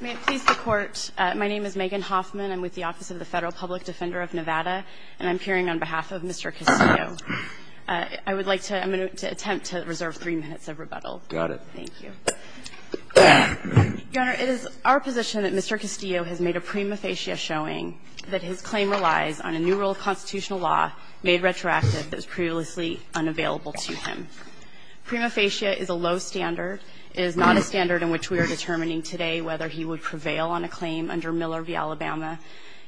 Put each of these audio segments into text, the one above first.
May it please the Court, my name is Megan Hoffman. I'm with the Office of the Federal Public Defender of Nevada, and I'm appearing on behalf of Mr. Castillo. I would like to attempt to reserve three minutes of rebuttal. Got it. Thank you. Your Honor, it is our position that Mr. Castillo has made a prima facie showing that his claim relies on a new rule of constitutional law made retroactive that was previously unavailable to him. Prima facie is a low standard. It is not a standard in which we are determining today whether he would prevail on a claim under Miller v. Alabama.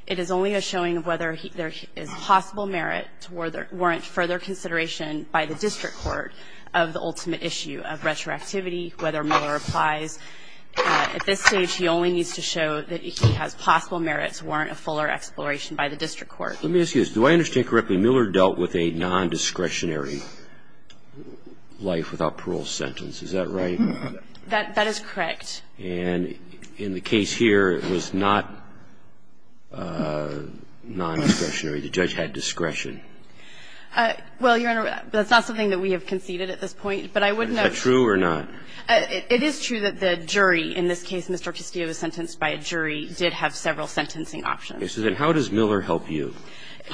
It is only a showing of whether there is possible merit to warrant further consideration by the district court of the ultimate issue of retroactivity, whether Miller applies. At this stage, he only needs to show that he has possible merit to warrant a fuller exploration by the district court. Let me ask you this. Do I understand correctly Miller dealt with a nondiscretionary life without parole sentence? Is that right? That is correct. And in the case here, it was not nondiscretionary. The judge had discretion. Well, Your Honor, that's not something that we have conceded at this point, but I wouldn't know. Is that true or not? It is true that the jury in this case, Mr. Castillo was sentenced by a jury, did have several sentencing options. And so the question is, how does Miller help you?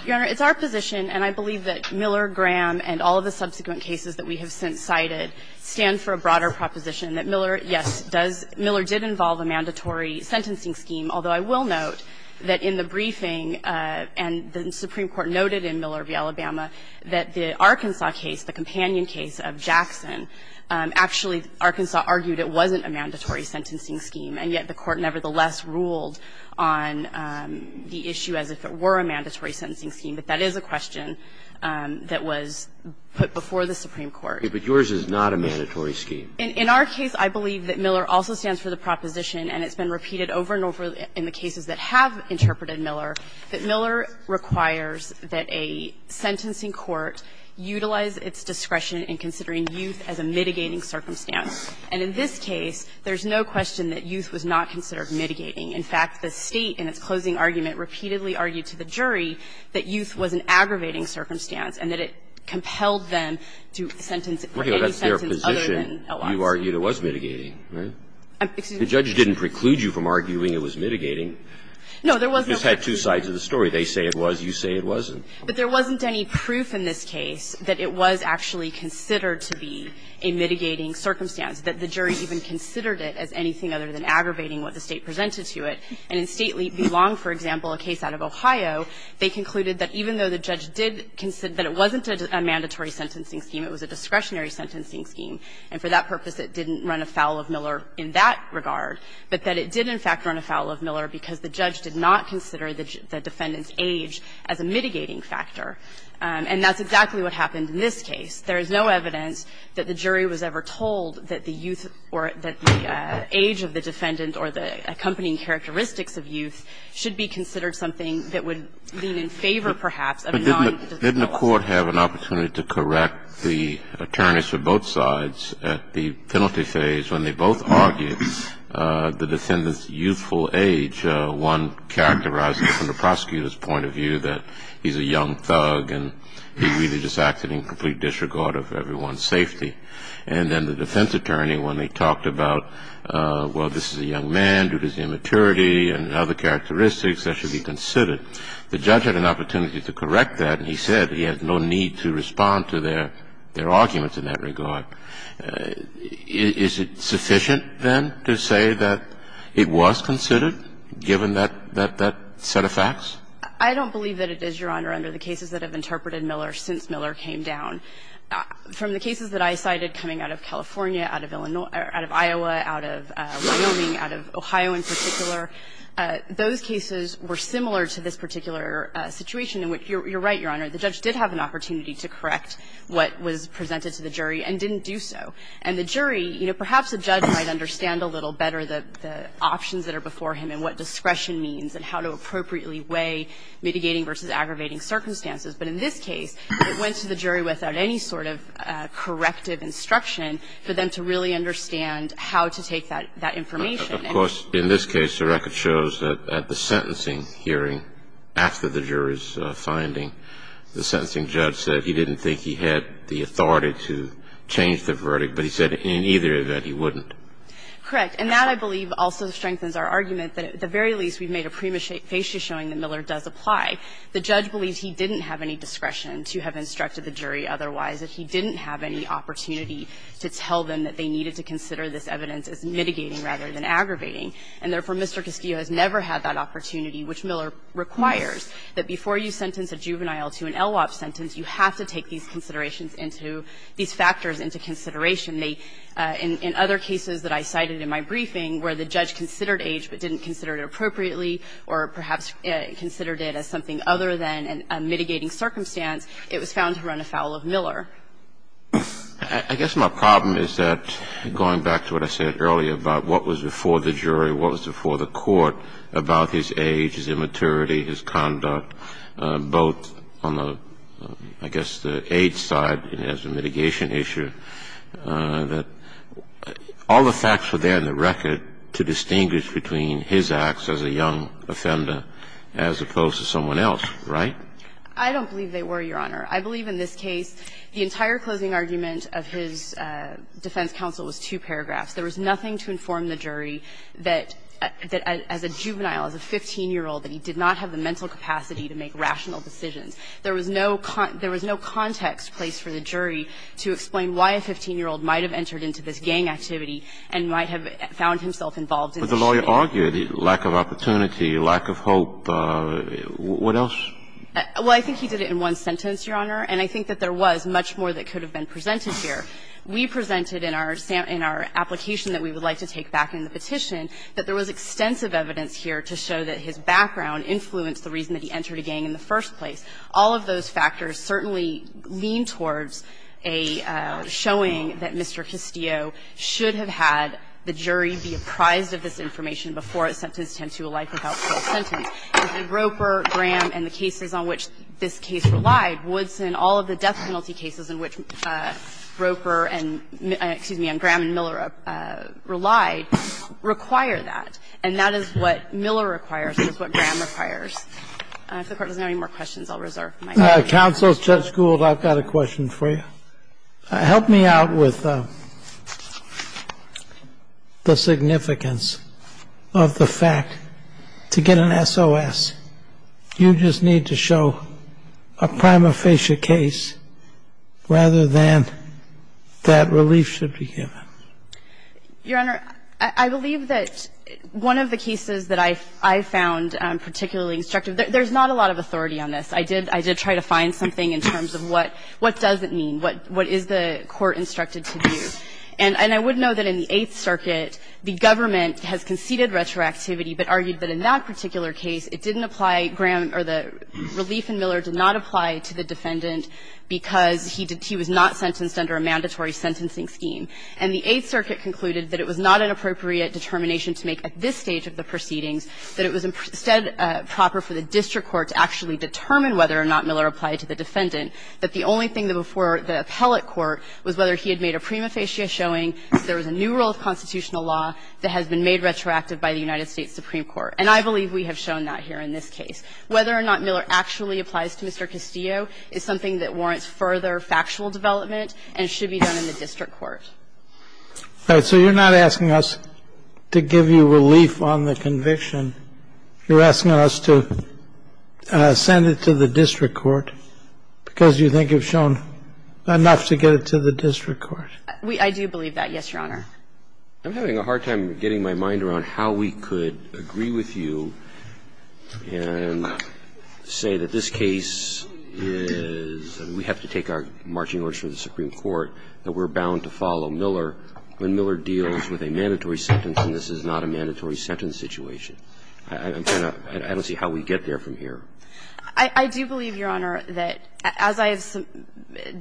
Your Honor, it's our position, and I believe that Miller, Graham, and all of the subsequent cases that we have since cited stand for a broader proposition that Miller, yes, Miller did involve a mandatory sentencing scheme, although I will note that in the briefing and the Supreme Court noted in Miller v. Alabama that the Arkansas case, the companion case of Jackson, actually Arkansas argued it wasn't a mandatory sentencing scheme, and yet the Court nevertheless ruled on the issue as if it were a mandatory sentencing scheme. But that is a question that was put before the Supreme Court. But yours is not a mandatory scheme. In our case, I believe that Miller also stands for the proposition, and it's been repeated over and over in the cases that have interpreted Miller, that Miller requires that a sentencing court utilize its discretion in considering youth as a mitigating circumstance. And in this case, there's no question that youth was not considered mitigating. In fact, the State, in its closing argument, repeatedly argued to the jury that youth was an aggravating circumstance and that it compelled them to sentence for any sentence other than L.I.C.E. Breyer, that's their position. You argued it was mitigating, right? The judge didn't preclude you from arguing it was mitigating. No, there was no preclusion. You just had two sides of the story. They say it was, you say it wasn't. But there wasn't any proof in this case that it was actually considered to be a mitigating circumstance, that the jury even considered it as anything other than aggravating what the State presented to it. And in State v. Long, for example, a case out of Ohio, they concluded that even though the judge did consider that it wasn't a mandatory sentencing scheme, it was a discretionary sentencing scheme, and for that purpose, it didn't run afoul of Miller in that regard, but that it did, in fact, run afoul of Miller because the judge did not consider the defendant's age as a mitigating factor. And that's exactly what happened in this case. There is no evidence that the jury was ever told that the youth or that the age of the defendant or the accompanying characteristics of youth should be considered something that would lean in favor, perhaps, of non-youth. Didn't the Court have an opportunity to correct the attorneys for both sides at the penalty phase when they both argued the defendant's youthful age? One characterized it from the prosecutor's point of view that he's a young thug and he really just acted in complete disregard of everyone's safety. And then the defense attorney, when they talked about, well, this is a young man due to his immaturity and other characteristics that should be considered, the judge had an opportunity to correct that, and he said he had no need to respond to their arguments in that regard. Is it sufficient, then, to say that it was considered, given that set of facts? I don't believe that it is, Your Honor, under the cases that have interpreted Miller since Miller came down. From the cases that I cited coming out of California, out of Illinois or out of Iowa, out of Wyoming, out of Ohio in particular, those cases were similar to this particular situation in which, you're right, Your Honor, the judge did have an opportunity to correct what was presented to the jury and didn't do so. And the jury, you know, perhaps the judge might understand a little better the options that are before him and what discretion means and how to appropriately weigh mitigating versus aggravating circumstances. But in this case, it went to the jury without any sort of corrective instruction for them to really understand how to take that information. And he was able to do that. In this case, the record shows that at the sentencing hearing, after the jury's finding, the sentencing judge said he didn't think he had the authority to change the verdict, but he said in either event he wouldn't. Correct. And that, I believe, also strengthens our argument that, at the very least, we've made a prima facie showing that Miller does apply. The judge believes he didn't have any discretion to have instructed the jury otherwise, that he didn't have any opportunity to tell them that they needed to consider this evidence as mitigating rather than aggravating. And therefore, Mr. Cascio has never had that opportunity, which Miller requires, that before you sentence a juvenile to an LWOP sentence, you have to take these considerations into these factors into consideration. In other cases that I cited in my briefing, where the judge considered age but didn't consider it appropriately or perhaps considered it as something other than a mitigating circumstance, it was found to run afoul of Miller. I guess my problem is that, going back to what I said earlier about what was before the jury, what was before the court about his age, his immaturity, his conduct, both on the, I guess, the age side as a mitigation issue, that all the facts were there in the record to distinguish between his acts as a young offender as opposed to someone else, right? I don't believe they were, Your Honor. I believe in this case the entire closing argument of his defense counsel was two paragraphs. There was nothing to inform the jury that as a juvenile, as a 15-year-old, that he did not have the mental capacity to make rational decisions. There was no context placed for the jury to explain why a 15-year-old might have entered into this gang activity and might have found himself involved in the shooting. Kennedy. But the lawyer argued lack of opportunity, lack of hope. What else? Well, I think he did it in one sentence, Your Honor. And I think that there was much more that could have been presented here. We presented in our application that we would like to take back in the petition that there was extensive evidence here to show that his background influenced the reason that he entered a gang in the first place. All of those factors certainly lean towards a showing that Mr. Castillo should have had the jury be apprised of this information before it sentenced him to a life without parole sentence. And Roper, Graham, and the cases on which this case relied, Woodson, all of the death he did not have the mental capacity to make rational decisions. And we require that, and that is what Miller requires and that's what Graham requires. If the Court doesn't have any more questions, I'll reserve my time. Counsel, Judge Gould, I've got a question for you. Help me out with the significance of the fact to get an SOS, you just need to show a prima facie case rather than that relief should be given. Your Honor, I believe that one of the cases that I found particularly instructive – there's not a lot of authority on this. I did try to find something in terms of what does it mean, what is the court instructed to do. And I would know that in the Eighth Circuit, the government has conceded retroactivity, but argued that in that particular case, it didn't apply, Graham or the relief in Miller did not apply to the defendant because he was not sentenced under a mandatory sentencing scheme. And the Eighth Circuit concluded that it was not an appropriate determination to make at this stage of the proceedings, that it was instead proper for the district court to actually determine whether or not Miller applied to the defendant, that the only thing that before the appellate court was whether he had made a prima facie showing that there was a new rule of constitutional law that has been made retroactive by the United States Supreme Court. And I believe we have shown that here in this case. Whether or not Miller actually applies to Mr. Castillo is something that warrants further factual development and should be done in the district court. And so you're not asking us to give you relief on the conviction. You're asking us to send it to the district court because you think you've shown enough to get it to the district court. I do believe that, yes, Your Honor. I'm having a hard time getting my mind around how we could agree with you and say that this case is, we have to take our marching orders from the Supreme Court, that we're bound to follow Miller when Miller deals with a mandatory sentence and this is not a mandatory sentence situation. I don't see how we get there from here. I do believe, Your Honor, that as I have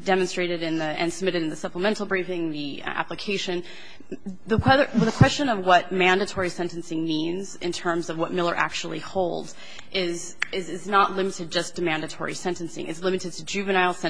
demonstrated and submitted in the supplemental briefing, the application, the question of what mandatory sentencing means in terms of what Miller actually holds is not limited just to mandatory sentencing. It's limited to juveniles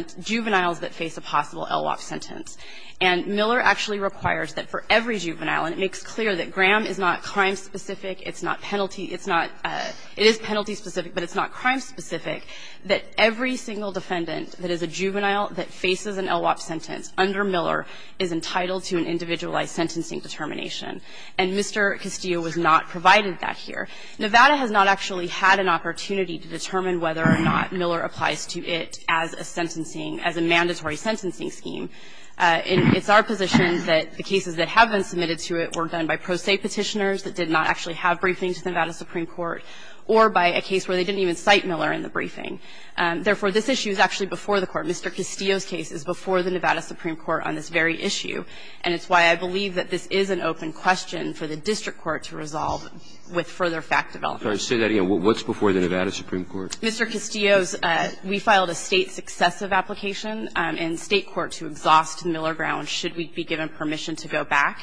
that face a possible LWOP sentence. And Miller actually requires that for every juvenile, and it makes clear that Graham is not crime specific, it's not penalty, it's not, it is penalty specific, but it's not crime specific, that every single defendant that is a juvenile that faces an LWOP sentence under Miller is entitled to an individualized sentencing determination. And Mr. Castillo has not provided that here. Nevada has not actually had an opportunity to determine whether or not Miller applies to it as a sentencing, as a mandatory sentencing scheme. And it's our position that the cases that have been submitted to it were done by pro se Petitioners that did not actually have briefings with Nevada Supreme Court or by a case where they didn't even cite Miller in the briefing. Therefore, this issue is actually before the Court. Mr. Castillo's case is before the Nevada Supreme Court on this very issue, and it's why I believe that this is an open question for the district court to resolve with further fact development. Roberts, say that again. What's before the Nevada Supreme Court? Mr. Castillo's, we filed a State successive application in State court to exhaust Miller grounds, should we be given permission to go back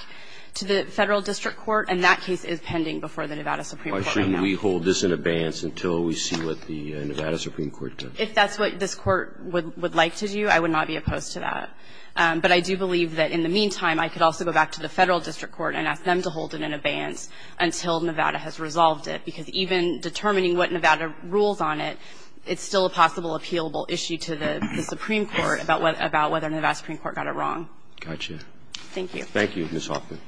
to the Federal District Court, and that case is pending before the Nevada Supreme Court right now. Why shouldn't we hold this in abeyance until we see what the Nevada Supreme Court does? If that's what this Court would like to do, I would not be opposed to that. But I do believe that in the meantime, I could also go back to the Federal District Court and ask them to hold it in abeyance until Nevada has resolved it, because even determining what Nevada rules on it, it's still a possible appealable issue to the Supreme Court about whether Nevada Supreme Court got it wrong. Thank you. Thank you, Ms. Hoffman.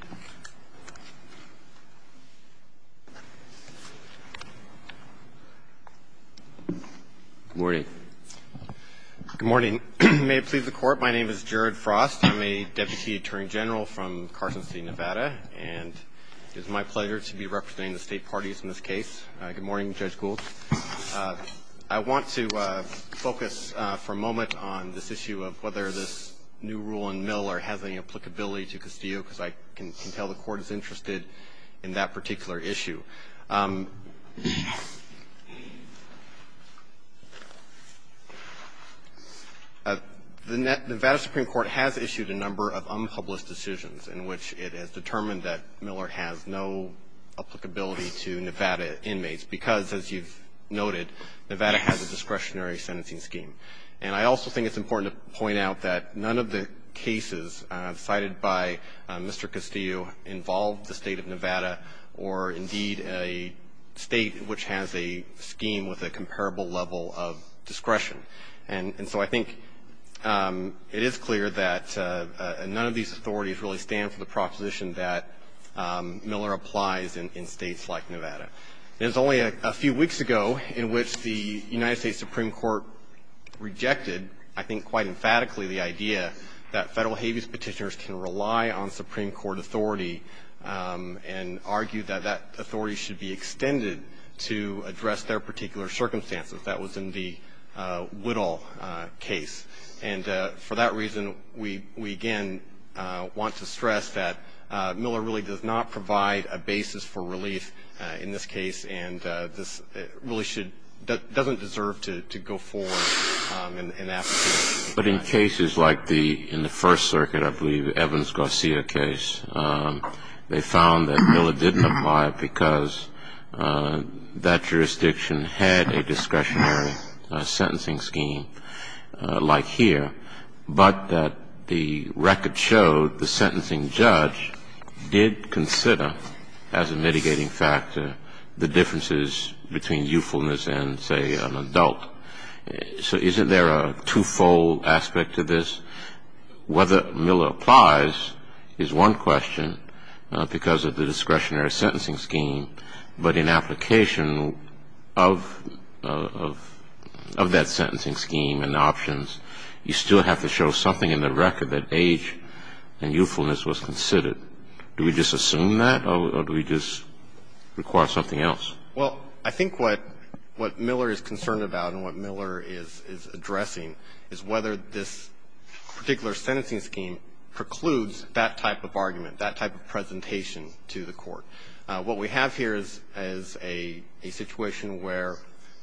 Good morning. Good morning. May it please the Court, my name is Jared Frost. I'm a deputy attorney general from Carson City, Nevada, and it is my pleasure to be representing the State parties in this case. Good morning, Judge Gould. I want to focus for a moment on this issue of whether this new rule in Miller has any applicability to Castillo, because I can tell the Court is interested in that particular issue. The Nevada Supreme Court has issued a number of unpublished decisions in which it has determined that Miller has no applicability to Nevada inmates because, as you've noted, Nevada has a discretionary sentencing scheme. And I also think it's important to point out that none of the cases cited by Mr. Miller apply to a state of Nevada or, indeed, a state which has a scheme with a comparable level of discretion. And so I think it is clear that none of these authorities really stand for the proposition that Miller applies in states like Nevada. It was only a few weeks ago in which the United States Supreme Court rejected, I think quite emphatically, the idea that Federal habeas petitioners can rely on and argue that that authority should be extended to address their particular circumstances. That was in the Whittle case. And for that reason, we, again, want to stress that Miller really does not provide a basis for relief in this case, and really doesn't deserve to go forward and ask for relief. But in cases like the, in the First Circuit, I believe, Evans-Garcia case, they found that Miller didn't apply because that jurisdiction had a discretionary sentencing scheme like here, but that the record showed the sentencing judge did consider, as a mitigating factor, the differences between youthfulness and, say, an adult. So isn't there a twofold aspect to this? Whether Miller applies is one question because of the discretionary sentencing scheme, but in application of that sentencing scheme and options, you still have to show something in the record that age and youthfulness was considered. Do we just assume that, or do we just require something else? Well, I think what Miller is concerned about and what Miller is addressing is whether this particular sentencing scheme precludes that type of argument, that type of presentation to the Court. What we have here is a situation where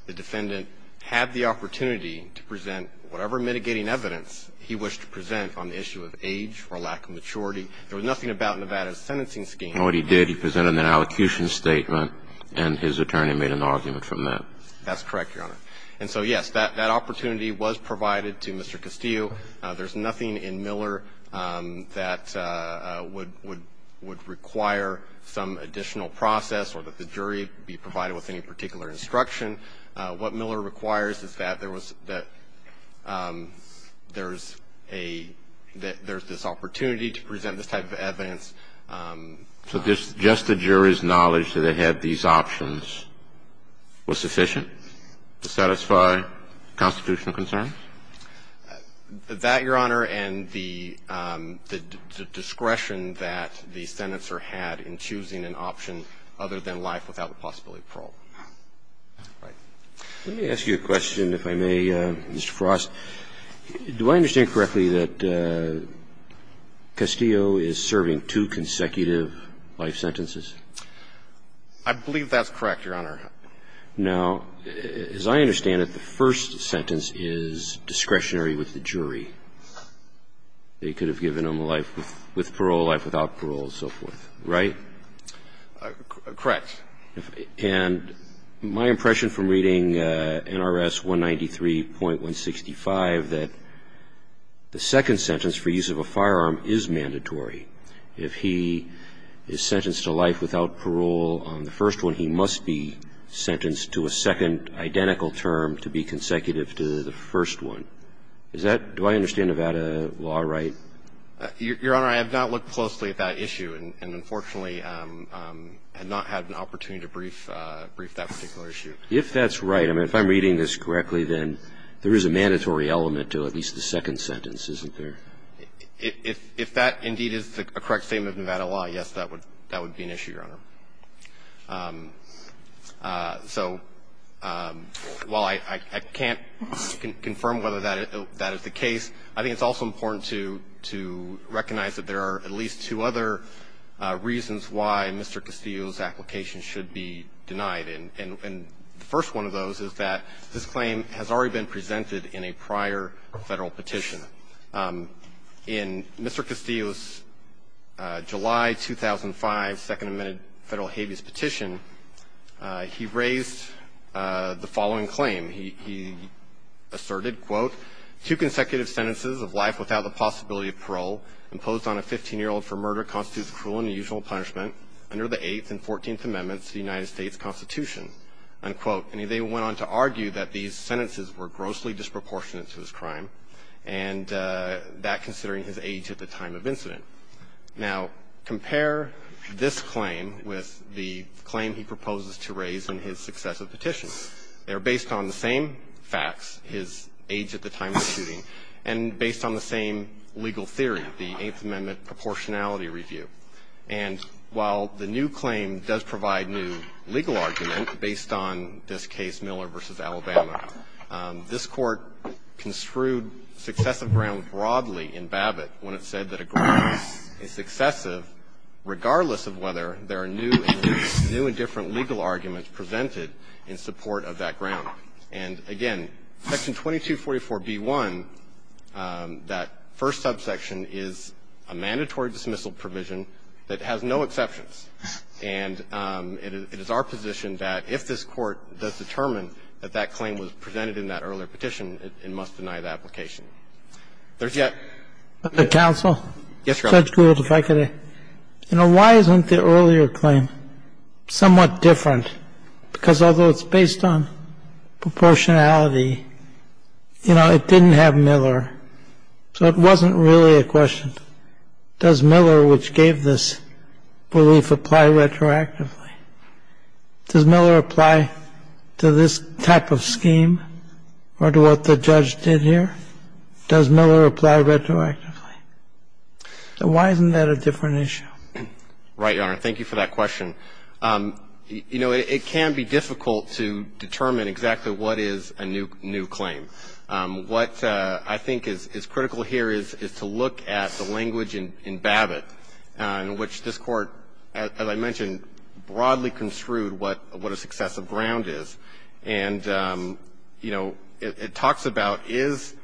the defendant had the opportunity to present whatever mitigating evidence he wished to present on the issue of age or lack of maturity. There was nothing about Nevada's sentencing scheme. And what he did, he presented an allocution statement, and his attorney made an argument from that. That's correct, Your Honor. And so, yes, that opportunity was provided to Mr. Castillo. There's nothing in Miller that would require some additional process or that the jury be provided with any particular instruction. What Miller requires is that there was that there's a – that there's this opportunity to present this type of evidence. So just the jury's knowledge that it had these options was sufficient to satisfy constitutional concerns? That, Your Honor, and the discretion that the senator had in choosing an option other than life without the possibility of parole. All right. Let me ask you a question, if I may, Mr. Frost. Do I understand correctly that Castillo is serving two consecutive life sentences? I believe that's correct, Your Honor. Now, as I understand it, the first sentence is discretionary with the jury. They could have given him a life with parole, a life without parole, and so forth. Right? Correct. And my impression from reading NRS 193.165 that the second sentence for use of a firearm is mandatory. If he is sentenced to life without parole on the first one, he must be sentenced to a second identical term to be consecutive to the first one. Is that – do I understand Nevada law right? Your Honor, I have not looked closely at that issue and, unfortunately, I have not had an opportunity to brief that particular issue. If that's right, I mean, if I'm reading this correctly, then there is a mandatory element to at least the second sentence, isn't there? If that indeed is a correct statement of Nevada law, yes, that would be an issue, Your Honor. So while I can't confirm whether that is the case, I think it's also important to recognize that there are at least two other reasons why Mr. Castillo's application should be denied. And the first one of those is that this claim has already been presented in a prior Federal petition. In Mr. Castillo's July 2005 Second Amendment Federal habeas petition, he raised the following claim. He asserted, quote, two consecutive sentences of life without the possibility of parole imposed on a 15-year-old for murder constitutes cruel and unusual punishment under the Eighth and Fourteenth Amendments of the United States Constitution, unquote. And they went on to argue that these sentences were grossly disproportionate to his crime, and that considering his age at the time of incident. Now, compare this claim with the claim he proposes to raise in his successive petition. They are based on the same facts, his age at the time of shooting, and based on the same legal theory, the Eighth Amendment proportionality review. And while the new claim does provide new legal argument based on this case, Miller v. Alabama, this Court construed successive grounds broadly in Babbitt when it said that a grounds is successive regardless of whether there are new and different legal arguments presented in support of that ground. And, again, Section 2244b1, that first subsection, is a mandatory dismissal provision that has no exceptions. And it is our position that if this Court does determine that that claim was presented in that earlier petition, it must deny the application. There's yet to be a verdict. Yes, Your Honor. I think Judge Gould, if I could, you know, why isn't the earlier claim somewhat different? Because although it's based on proportionality, you know, it didn't have Miller. So it wasn't really a question, does Miller, which gave this belief, apply retroactively? Does Miller apply to this type of scheme or to what the judge did here? Does Miller apply retroactively? Why isn't that a different issue? Right, Your Honor. Thank you for that question. You know, it can be difficult to determine exactly what is a new claim. What I think is critical here is to look at the language in Babbitt in which this Court, as I mentioned, broadly construed what a successive ground is. And, you know, it talks about is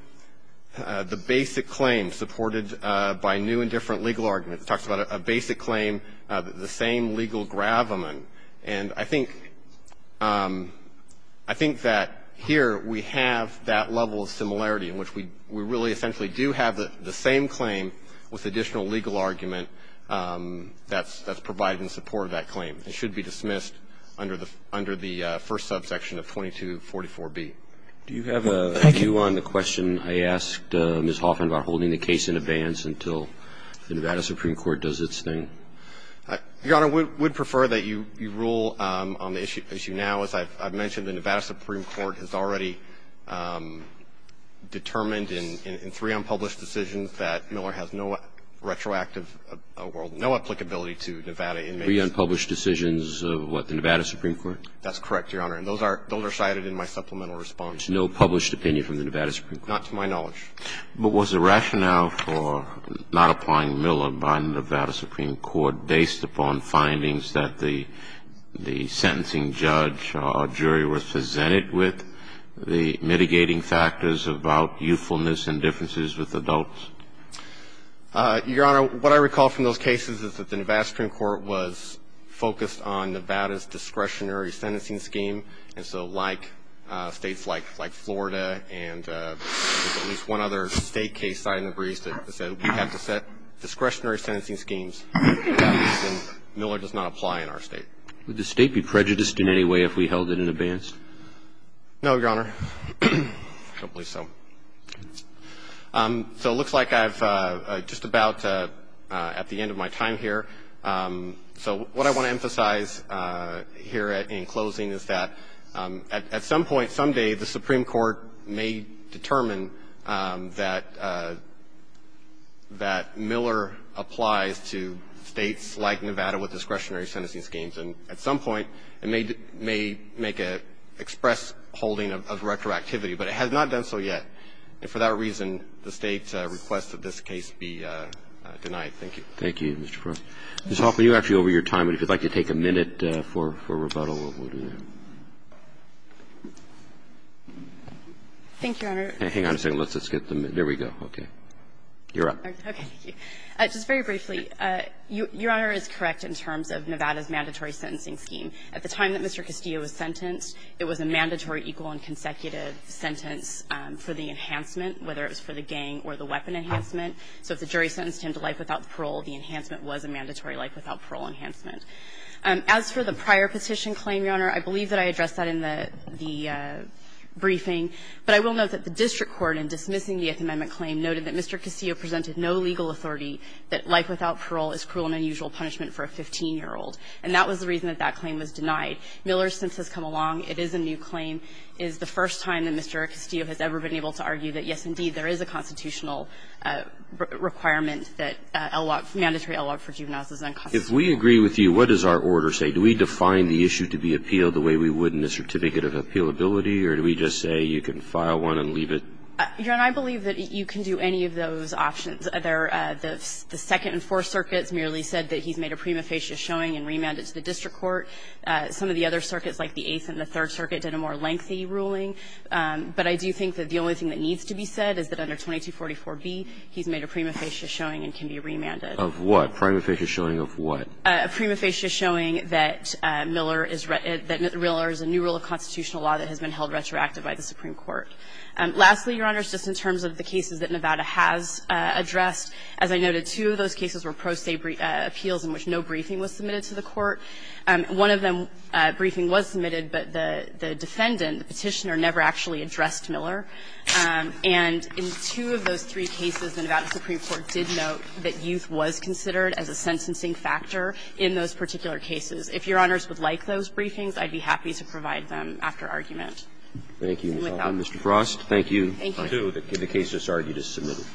the basic claim supported by new and different legal arguments. It talks about a basic claim, the same legal gravamen. And I think that here we have that level of similarity in which we really essentially do have the same claim with additional legal argument that's provided in support of that claim. It should be dismissed under the first subsection of 2244B. Do you have a view on the question I asked Ms. Hoffman about holding the case in abeyance until the Nevada Supreme Court does its thing? Your Honor, we would prefer that you rule on the issue now. As I've mentioned, the Nevada Supreme Court has already determined in three unpublished decisions that Miller has no retroactive or no applicability to Nevada inmates. Three unpublished decisions of what? The Nevada Supreme Court? That's correct, Your Honor. And those are cited in my supplemental response. No published opinion from the Nevada Supreme Court? Not to my knowledge. But was the rationale for not applying Miller by the Nevada Supreme Court based upon findings that the sentencing judge or jury were presented with, the mitigating factors about youthfulness and differences with adults? Your Honor, what I recall from those cases is that the Nevada Supreme Court was focused on Nevada's discretionary sentencing scheme. And so like states like Florida and at least one other state case cited in the briefs that said we have to set discretionary sentencing schemes. For that reason, Miller does not apply in our state. Would the state be prejudiced in any way if we held it in abeyance? No, Your Honor. I don't believe so. So it looks like I'm just about at the end of my time here. So what I want to emphasize here in closing is that at some point, someday the Supreme Court may determine that Miller applies to states like Nevada with discretionary sentencing schemes. And at some point it may make an express holding of retroactivity, but it has not done so yet. And for that reason, the state's request of this case be denied. Thank you. Thank you, Mr. Frost. Ms. Hoffman, you're actually over your time. And if you'd like to take a minute for rebuttal, we'll do that. Thank you, Your Honor. Hang on a second. Let's just get the minute. There we go. Okay. You're up. Okay. Thank you. Just very briefly, Your Honor is correct in terms of Nevada's mandatory sentencing scheme. At the time that Mr. Castillo was sentenced, it was a mandatory equal and consecutive sentence for the enhancement, whether it was for the gang or the weapon enhancement. So if the jury sentenced him to life without parole, the enhancement was a mandatory life without parole enhancement. As for the prior petition claim, Your Honor, I believe that I addressed that in the briefing. But I will note that the district court in dismissing the Eighth Amendment claim noted that Mr. Castillo presented no legal authority that life without parole is cruel and unusual punishment for a 15-year-old. And that was the reason that that claim was denied. Miller, since this has come along, it is a new claim. It is the first time that Mr. Castillo has ever been able to argue that, yes, indeed, there is a constitutional requirement that mandatory L.L.O.G. for juveniles is unconstitutional. If we agree with you, what does our order say? Do we define the issue to be appealed the way we would in the certificate of appealability? Or do we just say you can file one and leave it? Your Honor, I believe that you can do any of those options. The second and fourth circuits merely said that he's made a prima facie showing and remanded it to the district court. Some of the other circuits, like the Eighth and the Third Circuit, did a more lengthy ruling. But I do think that the only thing that needs to be said is that under 2244B, he's made a prima facie showing and can be remanded. Of what? Prima facie showing of what? A prima facie showing that Miller is real or is a new rule of constitutional law that has been held retroactive by the Supreme Court. Lastly, Your Honor, just in terms of the cases that Nevada has addressed, as I noted, two of those cases were pro se appeals in which no briefing was submitted to the court. One of them, briefing was submitted, but the defendant, the Petitioner, never actually addressed Miller. And in two of those three cases, the Nevada Supreme Court did note that youth was considered as a sentencing factor in those particular cases. If Your Honors would like those briefings, I'd be happy to provide them after argument. Thank you, Mr. Frost. Thank you. Thank you. The case that's argued is submitted.